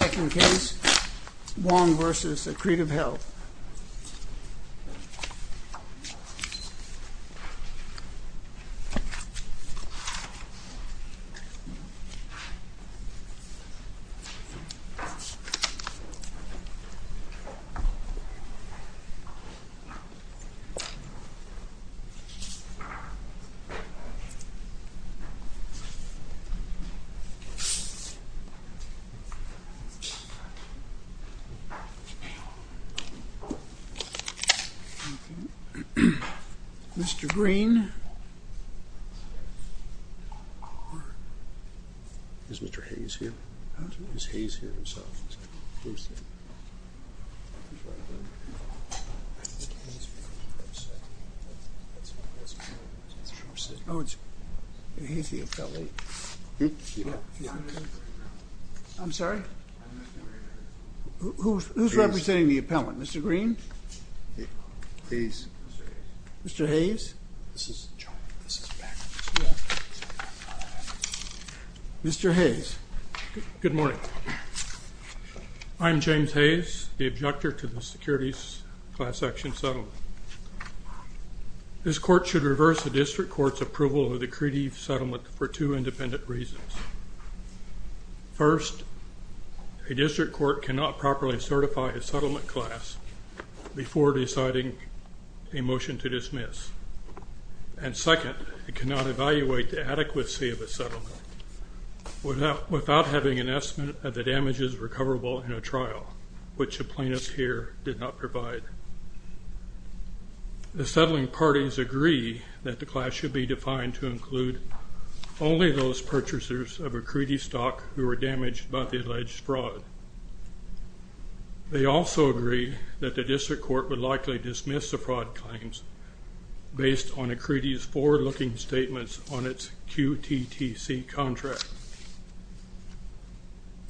Second case, Wong v. Accretive Health Mr. Greene Is Mr. Hayes here? Oh, he's the appellate. I'm sorry? Who's representing the appellant? Mr. Greene? Mr. Hayes? Mr. Hayes, good morning. I'm James Hayes, the objector to the securities class action settlement. This court should reverse the district court's approval of the credit settlement for two independent reasons. First, a district court cannot properly certify a settlement class before deciding a motion to dismiss. And second, it cannot evaluate the adequacy of a settlement without having an estimate of the damages recoverable in a trial, which the plaintiffs here did not provide. The settling parties agree that the class should be defined to include only those purchasers of a credit stock who were damaged by the alleged fraud. They also agree that the district court would likely dismiss the fraud claims based on a credit's forward-looking statements on its QTTC contract.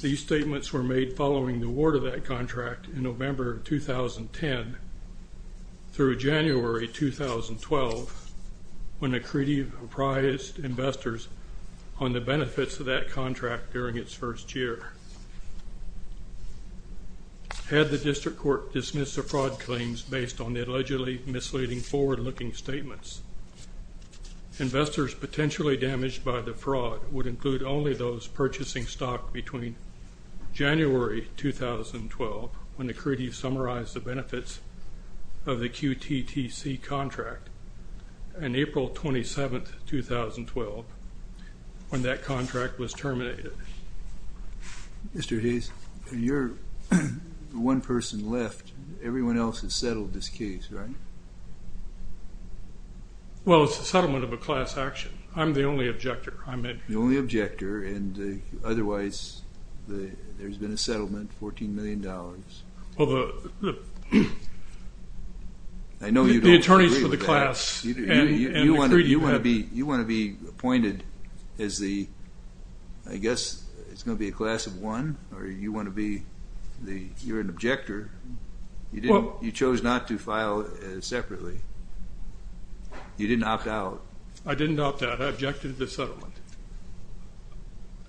These statements were made following the report of that contract in November of 2010 through January 2012, when the credit comprised investors on the benefits of that contract during its first year. Had the district court dismissed the fraud claims based on the allegedly misleading forward-looking statements, investors potentially damaged by the fraud would include only those purchasing stock between January 2012, when the credit summarized the benefits of the QTTC contract, and April 27, 2012, when that contract was terminated. Mr. Hayes, you're the one person left. Everyone else has settled this case, right? Well, it's a settlement of a class action. I'm the only objector. I'm the only objector, and otherwise there's been a settlement, $14 million. I know you don't agree with that. The attorneys for the class and the credit. You want to be appointed as the, I guess it's gonna be a class of one, or you want to be the, you're an objector. You chose not to file separately. You didn't opt out. I didn't opt out. I objected to the settlement.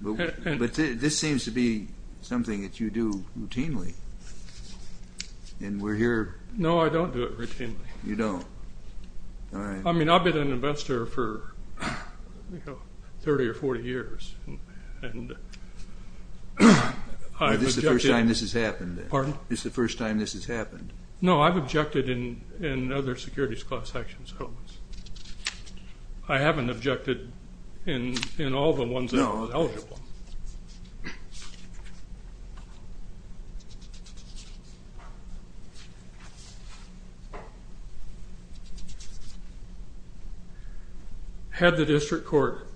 But this seems to be something that you do routinely, and we're here. No, I don't do it routinely. You don't? I mean, I've been an investor for 30 or 40 years. Is this the first time this has happened? Pardon? Is this the first time this has happened? No, I've objected in other securities class actions. I haven't objected in all the ones that I was eligible. Had the district court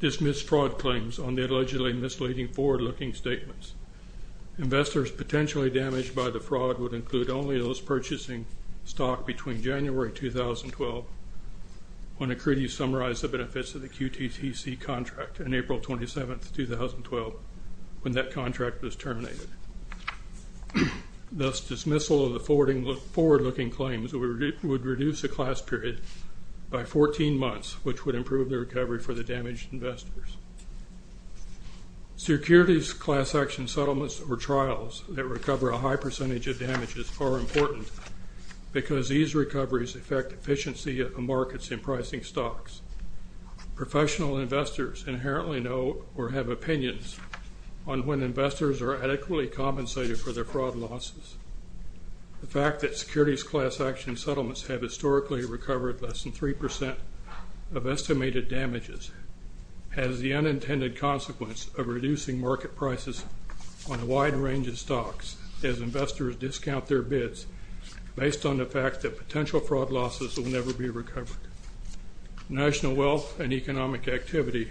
dismissed fraud claims on the allegedly misleading forward-looking statements, investors potentially damaged by the fraud would include only those purchasing stock between January 2012, when a credit summarize the benefits of the QTTC contract, and April 27, 2012, when that contract was terminated. Thus, dismissal of the forward-looking claims would reduce the class period by 14 months, which would improve the recovery for the damaged investors. Securities class action settlements or trials that recover a high percentage of damages are important because these Professional investors inherently know or have opinions on when investors are adequately compensated for their fraud losses. The fact that securities class action settlements have historically recovered less than 3% of estimated damages has the unintended consequence of reducing market prices on a wide range of stocks as investors discount their bids based on the fact that national wealth and economic activity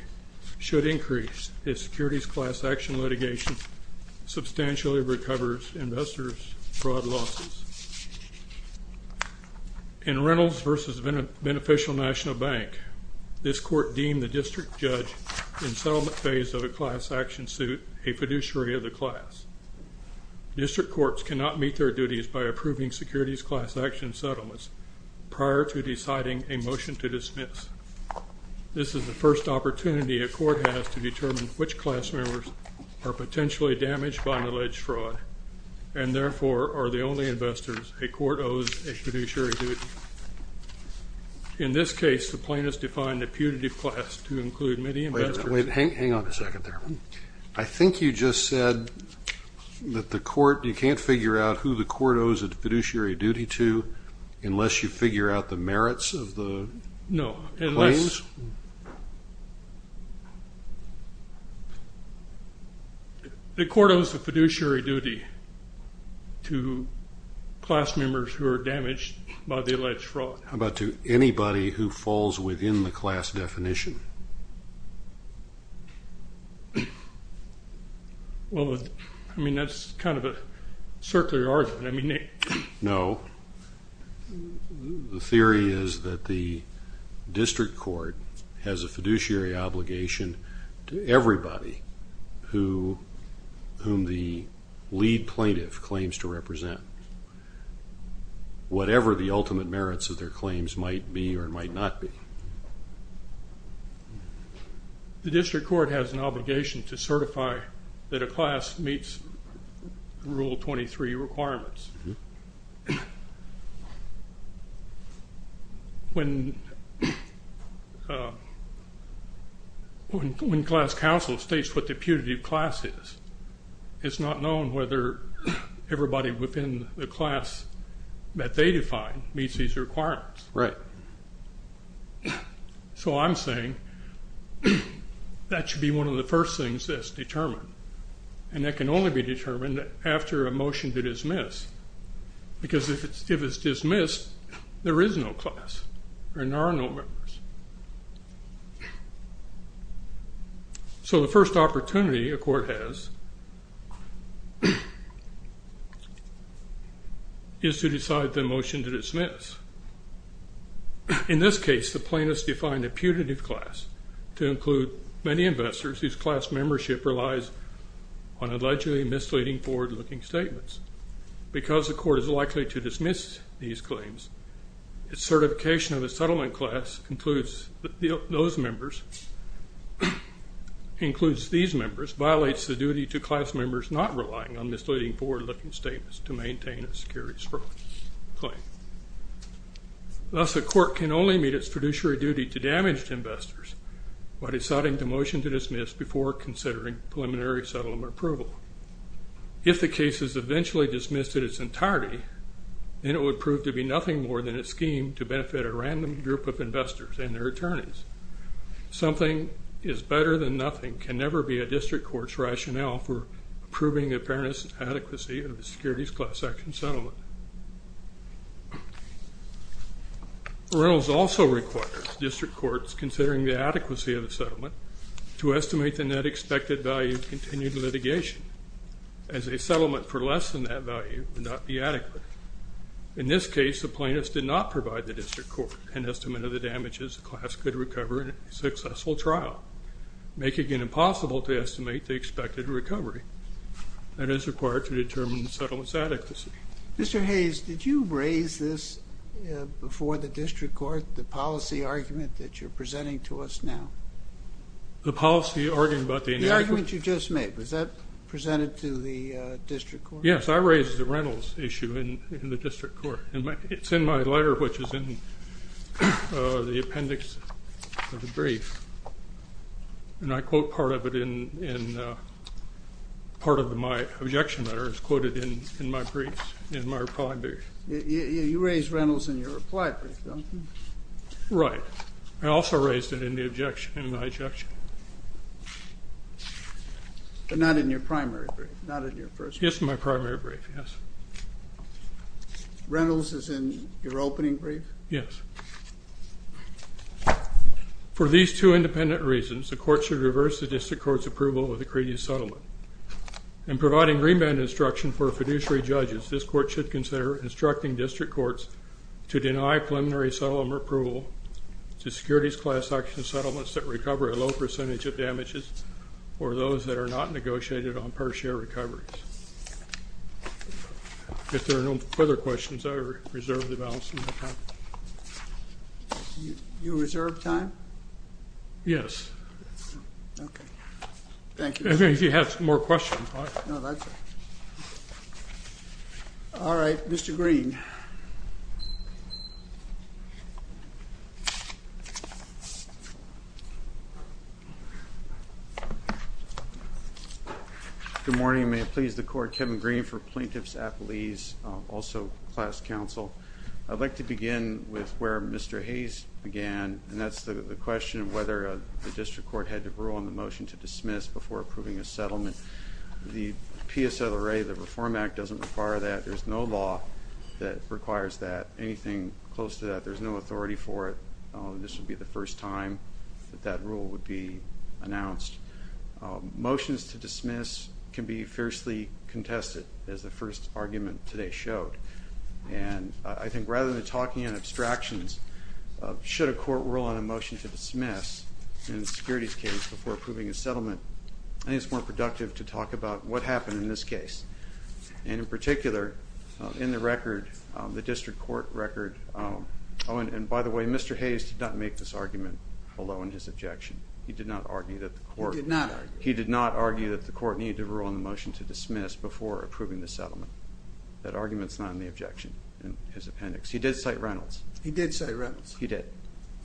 should increase if securities class action litigation substantially recovers investors' fraud losses. In Reynolds versus Beneficial National Bank, this court deemed the district judge in settlement phase of a class action suit a fiduciary of the class. District courts cannot meet their duties by approving securities class action settlements prior to deciding a motion to dismiss. This is the first opportunity a court has to determine which class members are potentially damaged by an alleged fraud, and therefore are the only investors a court owes a fiduciary duty. In this case, the plaintiffs defined a punitive class to include many investors. Wait, hang on a second there. I think you just said that the court, you can't figure out who the unless you figure out the merits of the claims? No. The court owes a fiduciary duty to class members who are damaged by the alleged fraud. How about to anybody who falls within the class definition? Well, I mean that's kind of a circular argument. I mean the theory is that the district court has a fiduciary obligation to everybody who whom the lead plaintiff claims to represent, whatever the ultimate merits of their claims might be or might not be. The district court has an obligation to everybody. When class counsel states what the punitive class is, it's not known whether everybody within the class that they define meets these requirements. Right. So I'm saying that should be one of the first things that's determined, and that can only be determined after a motion to dismiss, because if it's dismissed, there is no class and there are no members. So the first opportunity a court has is to decide the motion to dismiss. In this case, the plaintiffs defined a punitive class to include many investors whose class membership relies on allegedly misleading forward-looking statements. Because the court is likely to dismiss these claims, the certification of the settlement class includes those members, includes these members, violates the duty to class members not relying on misleading forward-looking statements to maintain a security claim. Thus, the court can only meet its fiduciary duty to damaged investors by deciding the motion to dismiss before considering preliminary settlement approval. If the case is eventually dismissed in its entirety, then it would prove to be nothing more than a scheme to benefit a random group of investors and their attorneys. Something is better than nothing can never be a district court's rationale for approving the fairness and adequacy of the securities class action settlement. Reynolds also requires district courts considering the estimate the net expected value of continued litigation as a settlement for less than that value would not be adequate. In this case, the plaintiffs did not provide the district court an estimate of the damages the class could recover in a successful trial, making it impossible to estimate the expected recovery that is required to determine the settlement's adequacy. Mr. Hayes, did you raise this before the district court, the policy argument that you're presenting to us now? The policy argument about the... The argument you just made, was that presented to the district court? Yes, I raised the Reynolds issue in the district court and it's in my letter which is in the appendix of the brief and I quote part of it in part of my objection letter, it's quoted in my brief, in my reply brief. You raised Reynolds in your reply brief, don't you? Right, I also raised it in the objection, in my objection. But not in your primary brief, not in your first brief. Yes, in my primary brief, yes. Reynolds is in your opening brief? Yes. For these two independent reasons, the court should reverse the district court's approval of the credia settlement and providing remand instruction for fiduciary judges, this court should consider instructing district courts to deny preliminary settlement approval to securities class action settlements that recover a low percentage of damages or those that are not negotiated on per share recoveries. If there are no further questions, I reserve the balance of my time. You reserve time? Yes. Okay, thank you. If you have some more questions. All right, Mr. Green. Good morning, may it please the court. Kevin Green for Plaintiffs Appellees, also class counsel. I'd like to begin with where Mr. Hayes began and that's the question of whether the district court had to rule on the motion to approve a settlement. The PSLA, the Reform Act, doesn't require that. There's no law that requires that. Anything close to that, there's no authority for it. This would be the first time that that rule would be announced. Motions to dismiss can be fiercely contested, as the first argument today showed. And I think rather than talking in abstractions, should a court rule on a motion to dismiss in a way that's more productive to talk about what happened in this case. And in particular, in the record, the district court record, oh and by the way, Mr. Hayes did not make this argument alone in his objection. He did not argue that the court, he did not argue that the court need to rule on the motion to dismiss before approving the settlement. That argument's not in the objection in his appendix. He did cite Reynolds. He did cite Reynolds. He did,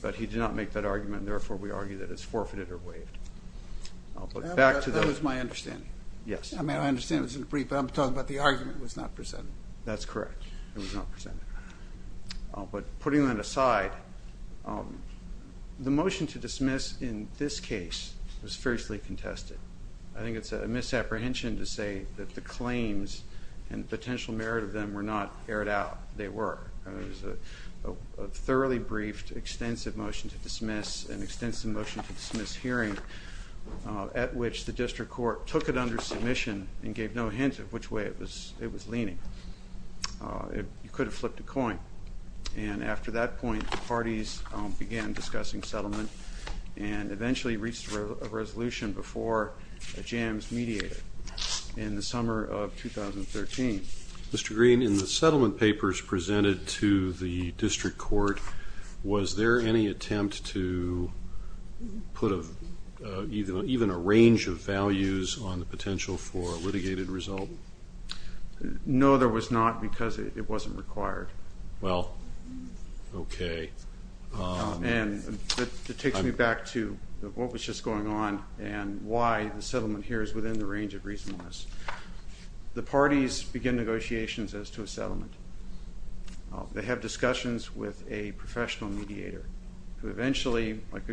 but he did not make that That's my understanding. Yes. I mean, I understand this is brief, but I'm talking about the argument was not presented. That's correct. It was not presented. But putting that aside, the motion to dismiss in this case was fiercely contested. I think it's a misapprehension to say that the claims and potential merit of them were not aired out. They were. It was a thoroughly briefed, extensive motion to dismiss, an extensive motion to dismiss hearing at which the district court took it under submission and gave no hint of which way it was it was leaning. It could have flipped a coin. And after that point, the parties began discussing settlement and eventually reached a resolution before the jams mediated in the summer of 2013. Mr. Green, in the settlement papers presented to the district court, was there any attempt to put even a range of values on the potential for a litigated result? No, there was not because it wasn't required. Well, okay. And it takes me back to what was just going on and why the settlement here is within the range of reasonableness. The parties begin negotiations as to a settlement. They have discussions with a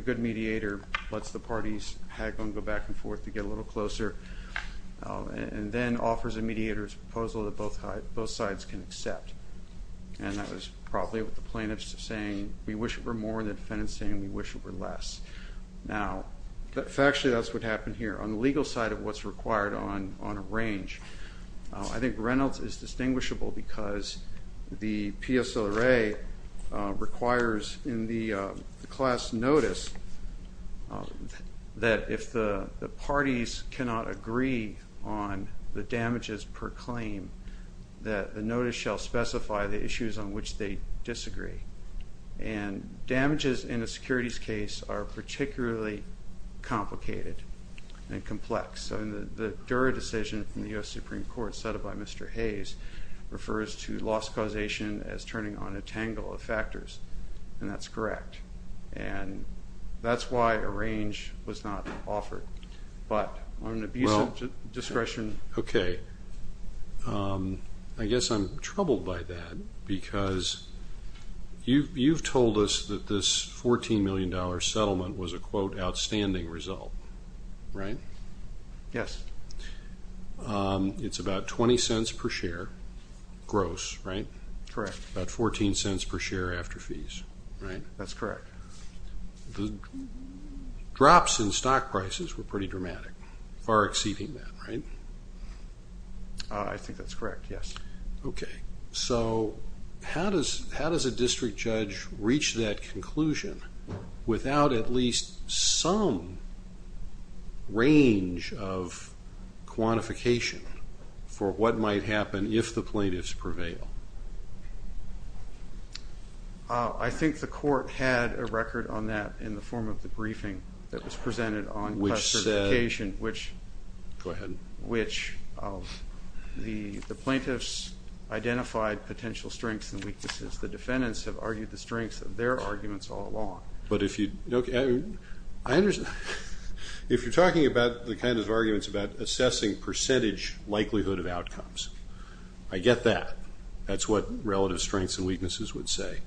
good mediator, lets the parties go back and forth to get a little closer, and then offers a mediator's proposal that both sides can accept. And that was probably what the plaintiffs were saying, we wish it were more, and the defendants were saying we wish it were less. Now, factually that's what happened here. On the legal side of what's required on a range, I think Reynolds is distinguishable because the class notice that if the parties cannot agree on the damages per claim, that the notice shall specify the issues on which they disagree. And damages in a securities case are particularly complicated and complex. The Dura decision from the US Supreme Court, settled by Mr. Hayes, refers to loss causation as turning on a tangle of factors, and that's correct. And that's why a range was not offered. But on an abuse of discretion... Okay, I guess I'm troubled by that because you've told us that this $14 million settlement was a quote, outstanding result, right? Yes. It's about 20 cents per share gross, right? Correct. About 14 cents per share after fees, right? That's correct. The drops in stock prices were pretty dramatic, far exceeding that, right? I think that's correct, yes. Okay, so how does a district judge reach that conclusion without at least some range of quantification for what might happen if the plaintiffs prevail? I think the court had a record on that in the form of the briefing that was presented on classification, which the plaintiffs identified potential strengths and weaknesses. The defendants have argued the strengths of their If you're talking about the kind of arguments about assessing percentage likelihood of outcomes, I get that. That's what relative strengths and weaknesses would say.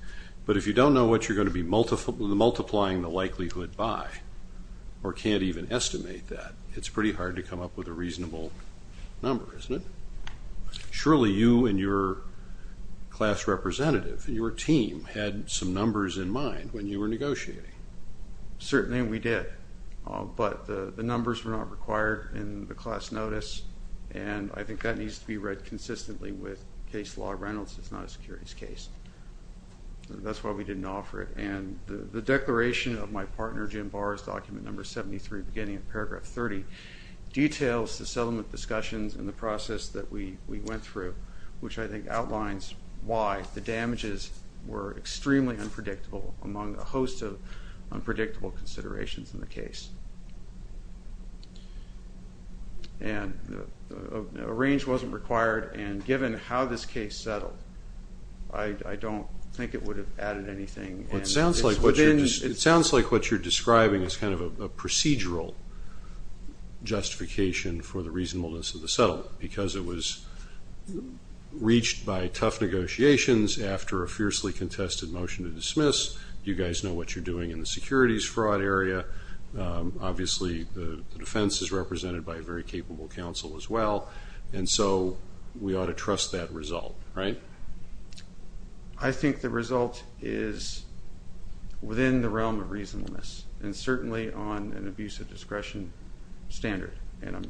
But if you don't know what you're going to be multiplying the likelihood by, or can't even estimate that, it's pretty hard to come up with a reasonable number, isn't it? Surely you and your class representative, your team had some numbers in mind when you were negotiating. Certainly we did, but the numbers were not required in the class notice and I think that needs to be read consistently with case law of Reynolds. It's not a securities case. That's why we didn't offer it. And the declaration of my partner Jim Barr's document number 73, beginning of paragraph 30, details the settlement discussions and the process that we went through, which I think outlines why the damages were extremely unpredictable among a host of unpredictable considerations in the case. And a range wasn't required and given how this case settled, I don't think it would have added anything. It sounds like what you're describing is kind of a procedural justification for the reasonableness of the settlement, because it was reached by tough negotiations after a fiercely contested motion to dismiss. You guys know what you're doing in the securities fraud area. Obviously the defense is represented by a very capable counsel as well, and so we ought to trust that result, right? I think the result is within the realm of reasonableness and certainly on an abuse of discretion standard. And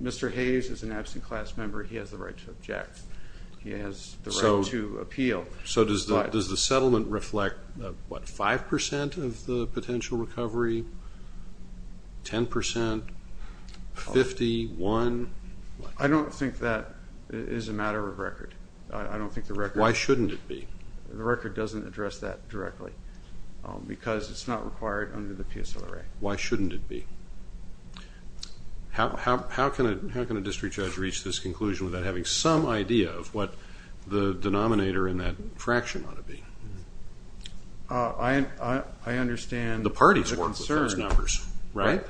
Mr. Hayes is an absent class member. He has the right to object. He has the right to appeal. So does the settlement reflect what, 5% of the potential recovery, 10%, 50, 1? I don't think that is a matter of record. I don't think the record... Why shouldn't it be? The record doesn't address that directly, because it's not required under the PSOA. Why shouldn't it be? How can a judge get an idea of what the denominator in that fraction ought to be? I understand... The parties work with those numbers, right?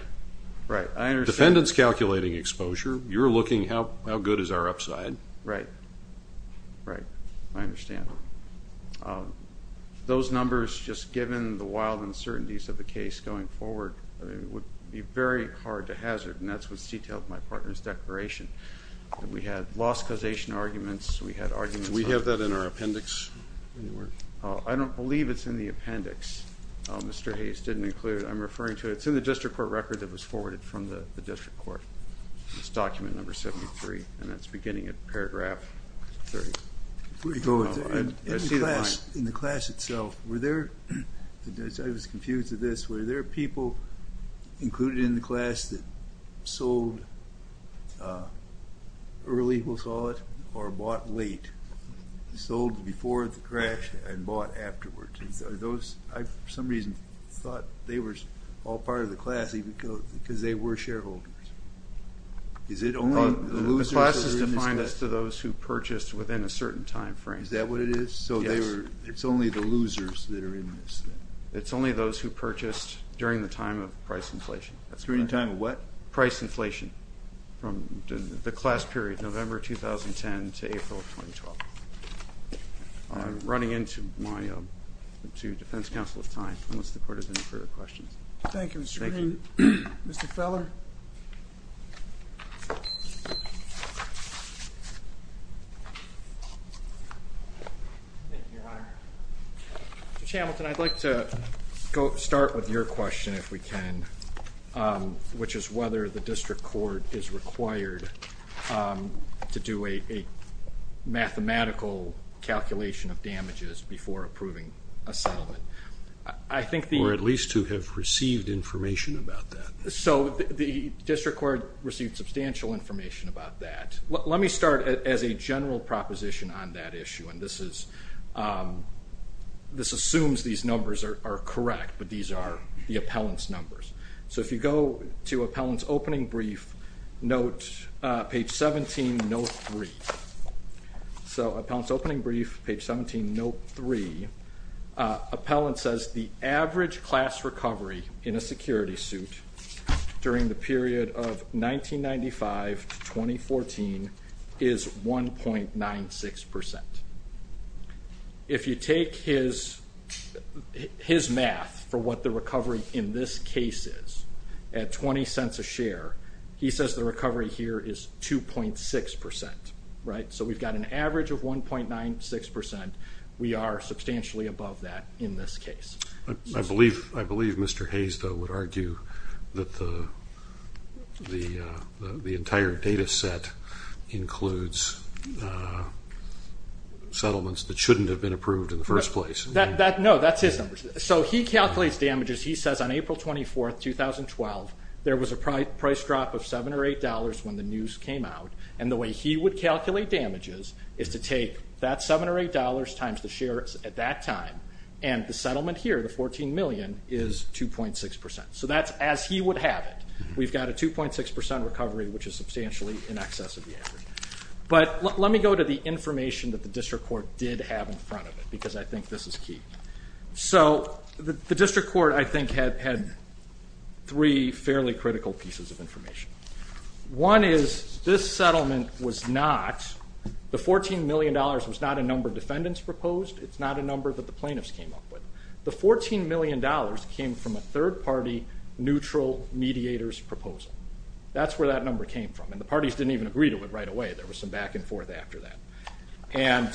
Right. Defendants calculating exposure. You're looking how good is our upside. Right. Right. I understand. Those numbers, just given the wild uncertainties of the case going forward, would be very hard to hazard, and that's what's detailed in my partner's declaration. We had loss causation arguments, we had arguments... We have that in our appendix? I don't believe it's in the appendix. Mr. Hayes didn't include it. I'm referring to it. It's in the district court record that was forwarded from the district court. It's document number 73, and that's beginning at paragraph 30. In the class itself, were there, I was confused with this, were there people included in the class that sold early, we'll call it, or bought late? Sold before the crash and bought afterwards. Are those, I for some reason thought they were all part of the class because they were shareholders. Is it only the losers? The class is defined as to those who purchased within a certain time frame. Is that what it is? So it's only the losers that are in this? It's only those who purchased during the time of price inflation. During the time of what? Price inflation, from the class period, November 2010 to April of 2012. I'm running into my... To defense counsel's time, unless the court has any further questions. Thank you, Mr. Green. Mr. Feller? Mr. Chambleton, I'd like to start with your question, if we can, which is whether the district court is required to do a mathematical calculation of damages before approving a settlement. I think... Or at least to have received information about that. So the district court received substantial information about that. Let me start as a general proposition on that issue, and this assumes these numbers are correct, but these are the appellant's numbers. So if you go to appellant's opening brief, note page 17, note 3. So appellant's opening brief, page 17, note 3, appellant says the average class recovery in a security suit during the period of 1995 to 2014 is 1.96%. If you take his math for what the recovery in this case is, at 20 cents a share, he says the recovery here is 2.6%, right? So we've got an average of 1.96%. We are substantially above that in this case. I believe Mr. Hayes, though, would argue that the entire data set includes settlements that shouldn't have been approved in the first place. No, that's his numbers. So he calculates damages. He says on April 24th, 2012, there was a price drop of seven or eight dollars when the news came out, and the way he would calculate damages is to take that seven or eight dollars times the share at that time, and the settlement here, the 14 million, is 2.6%. So that's as he would have it. We've got a 2.6% recovery, which is substantially in excess of the average. But let me go to the information that the district court did have in front of it, because I think this is key. So the district court, I think, had three fairly critical pieces of information. One is this settlement was not, the 14 million dollars was not a number defendants proposed. It's not a number that the plaintiffs came up with. The 14 million dollars came from a third-party neutral mediator's proposal. That's where that number came from, and the parties didn't even agree to it right away. There was some back and forth after that. And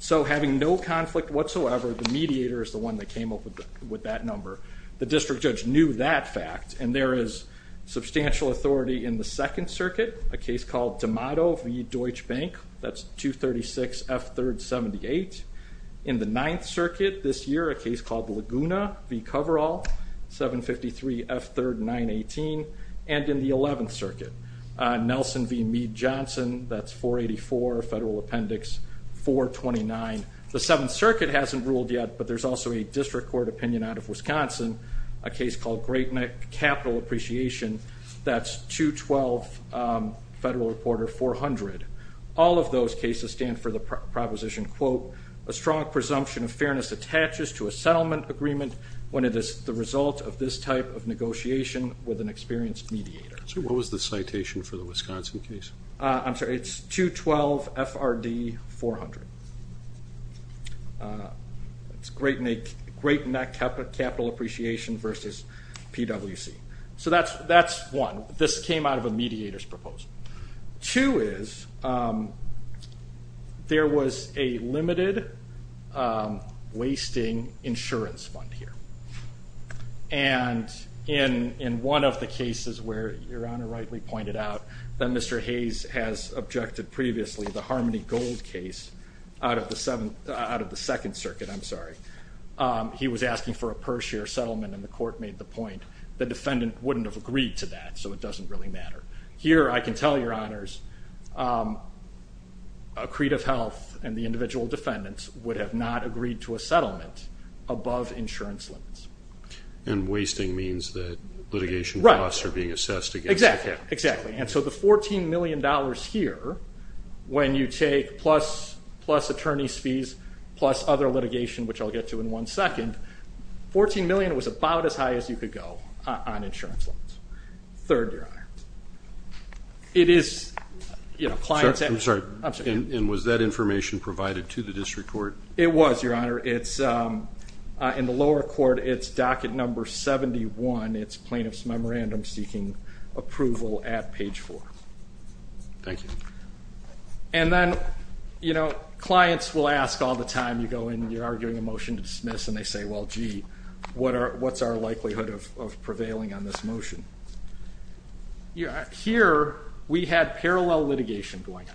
so having no conflict whatsoever, the mediator is the one that came up with that number. The district judge knew that fact, and there is substantial authority in the Second Circuit, a case called D'Amato v. Deutsche Bank, that's 236 F3rd 78. In the Ninth Circuit this year, a case called Laguna v. Coverall, 753 F3rd 918. And in the Eleventh Circuit, Nelson v. Meade Johnson, that's 484 Federal Appendix 429. The Seventh Circuit hasn't ruled yet, but there's also a district court opinion out of Wisconsin, a case called Great Neck Capital Appreciation, that's 212 Federal Reporter 400. All of those cases stand for the proposition, quote, a strong presumption of fairness attaches to a settlement agreement when it is the result of this type of negotiation with an experienced mediator. So what was the citation for the Wisconsin case? I'm sorry, it's 212 FRD 400. It's Great Neck Capital Appreciation versus PwC. So that's one. This came out of a mediator's proposal. Two is, there was a limited wasting insurance fund here. And in one of the cases where, Your Honor rightly pointed out, that Mr. Hayes has objected previously, the Harmony Gold case out of the Second Circuit, I'm sure the court made the point, the defendant wouldn't have agreed to that, so it doesn't really matter. Here, I can tell Your Honors, Accretive Health and the individual defendants would have not agreed to a settlement above insurance limits. And wasting means that litigation costs are being assessed. Exactly, exactly. And so the $14 million here, when you take plus attorney's fees, plus other was about as high as you could go on insurance loans. Third, Your Honor, it is, you know, clients... I'm sorry, and was that information provided to the district court? It was, Your Honor. It's, in the lower court, it's docket number 71. It's plaintiff's memorandum seeking approval at page 4. Thank you. And then, you know, clients will ask all the time, you go in, you're arguing a motion to dismiss, and they say, well, gee, what's our likelihood of prevailing on this motion? Here, we had parallel litigation going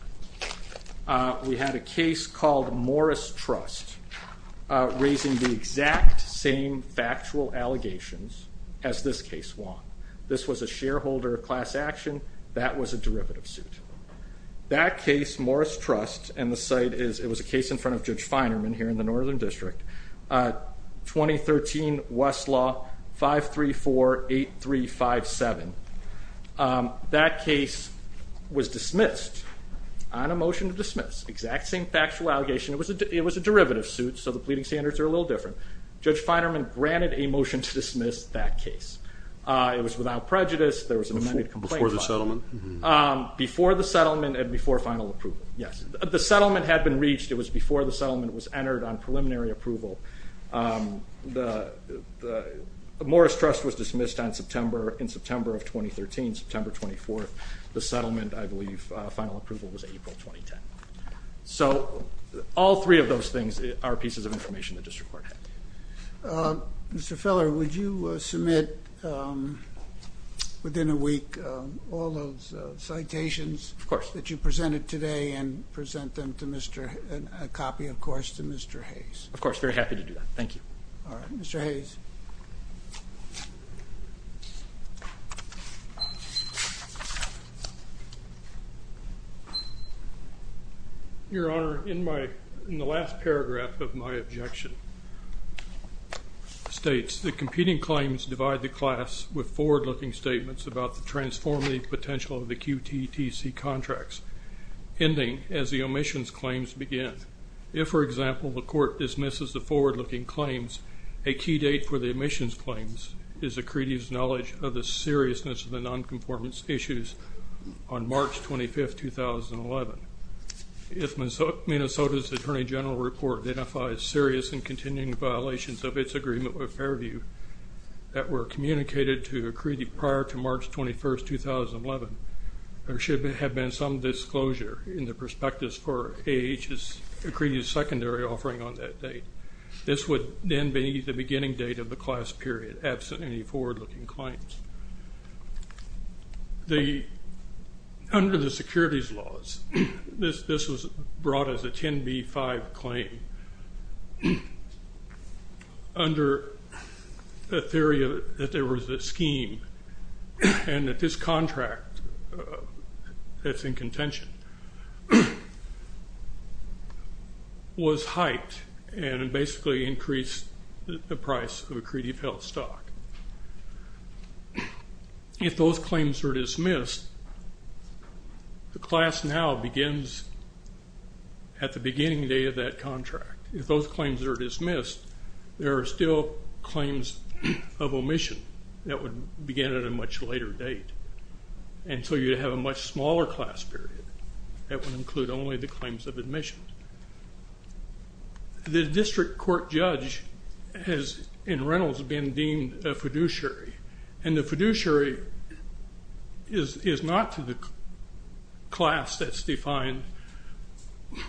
on. We had a case called Morris Trust, raising the exact same factual allegations as this case won. This was a shareholder class action, that was a derivative suit. That case, Morris Trust, and the site is, it was a case in front of Judge Finerman here in the Northern District, 2013 Westlaw 534-8357. That case was dismissed on a motion to dismiss, exact same factual allegation. It was a derivative suit, so the pleading standards are a little different. Judge Finerman granted a motion to dismiss that case. It was without prejudice, there was an amended complaint. Before the settlement? Before the settlement and before final approval, yes. The settlement had been reached, it was before the settlement was entered on preliminary approval. The Morris Trust was dismissed on September, in September of 2013, September 24th. The settlement, I believe, final approval was April 2010. So, all three of those things are pieces of information the district court had. Mr. Feller, would you submit, within a week, all those citations that you submitted? Of course, very happy to do that. Thank you. All right, Mr. Hayes. Your Honor, in my, in the last paragraph of my objection, states, the competing claims divide the class with forward-looking statements about the transformative potential of the QTTC contracts, ending as the omissions claims begin. If, for example, the court dismisses the forward-looking claims, a key date for the omissions claims is the creedee's knowledge of the seriousness of the non-conformance issues on March 25th, 2011. If Minnesota's Attorney General report identifies serious and continuing violations of its agreement with Fairview that were communicated to a creedee prior to March 2011, which is a creedee's secondary offering on that date, this would then be the beginning date of the class period, absent any forward-looking claims. Under the securities laws, this was brought as a 10b-5 claim. Under the theory that there was a scheme and that this contract that's in contention was hyped and basically increased the price of a creedee-filled stock. If those claims are dismissed, the class now begins at the beginning day of that contract. If those would begin at a much later date, and so you'd have a much smaller class period that would include only the claims of admission. The district court judge has in Reynolds been deemed a fiduciary, and the fiduciary is not to the class that's defined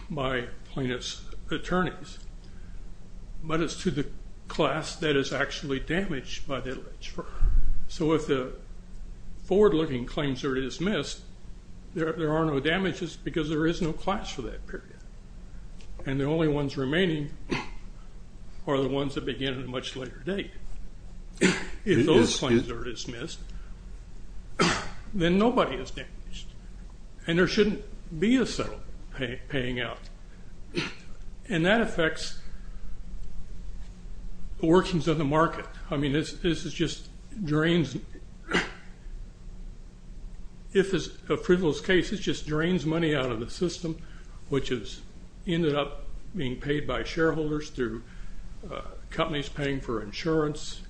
by plaintiff's attorneys, but it's to the class that is actually damaged by that legislature. So if the forward-looking claims are dismissed, there are no damages because there is no class for that period, and the only ones remaining are the ones that begin at a much later date. If those claims are dismissed, then nobody is damaged, and there shouldn't be a settlement paying out, and that affects the workings of the market. I mean, this is just drains, if it's a frivolous case, it just drains money out of the system, which has ended up being paid by shareholders through companies paying for insurance,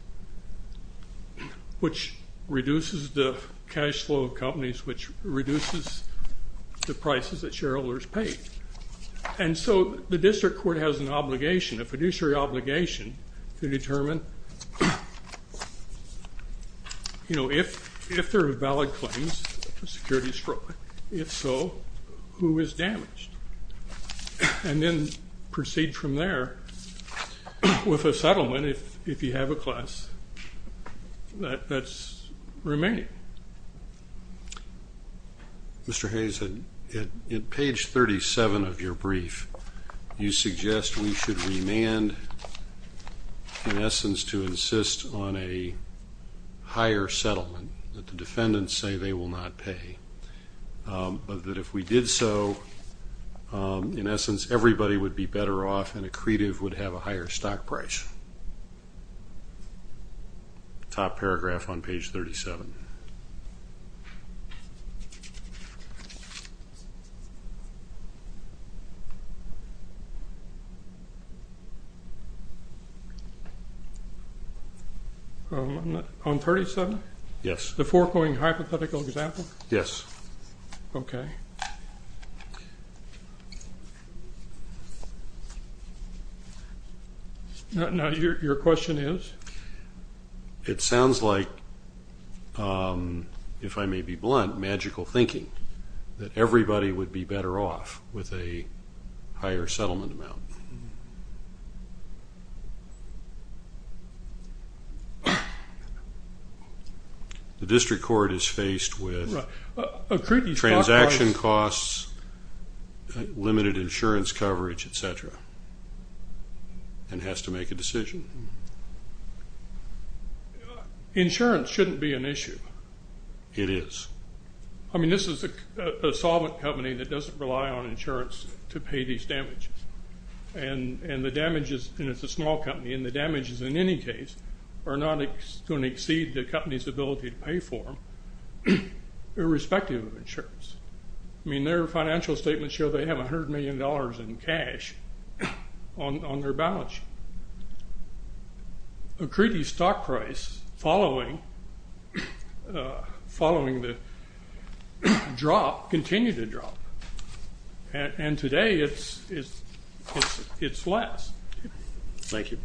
which reduces the cash flow of companies, which reduces the prices that shareholders pay, and so the fiduciary obligation to determine, you know, if there are valid claims, security is strong, if so, who is damaged, and then proceed from there with a settlement if you have a class that's remaining. Mr. Hayes, in page 37 of your brief, you suggest we should remand, in essence, to insist on a higher settlement that the defendants say they will not pay, but that if we did so, in essence, everybody would be better off and accretive would have a higher stock price. Top paragraph on page 37. On 37? Yes. The foregoing hypothetical example? Yes. Okay. Now your question is? It sounds like, if I may be blunt, magical thinking, that higher settlement amount. The district court is faced with transaction costs, limited insurance coverage, etc., and has to make a decision. Insurance shouldn't be an issue. It is. I mean, this is a solvent company that doesn't rely on insurance to pay these damages, and the damages, and it's a small company, and the damages, in any case, are not going to exceed the company's ability to pay for them, irrespective of insurance. I mean, their financial statements show they have a hundred million dollars in cash on their balance sheet. Accretive stock price, following the drop, continue to drop, and today it's less. Thank you.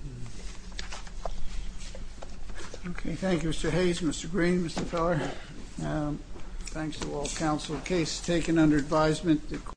Okay, thank you, Mr. Hayes, Mr. Green, Mr. Feller. Thanks to all counsel. Case taken under advisement.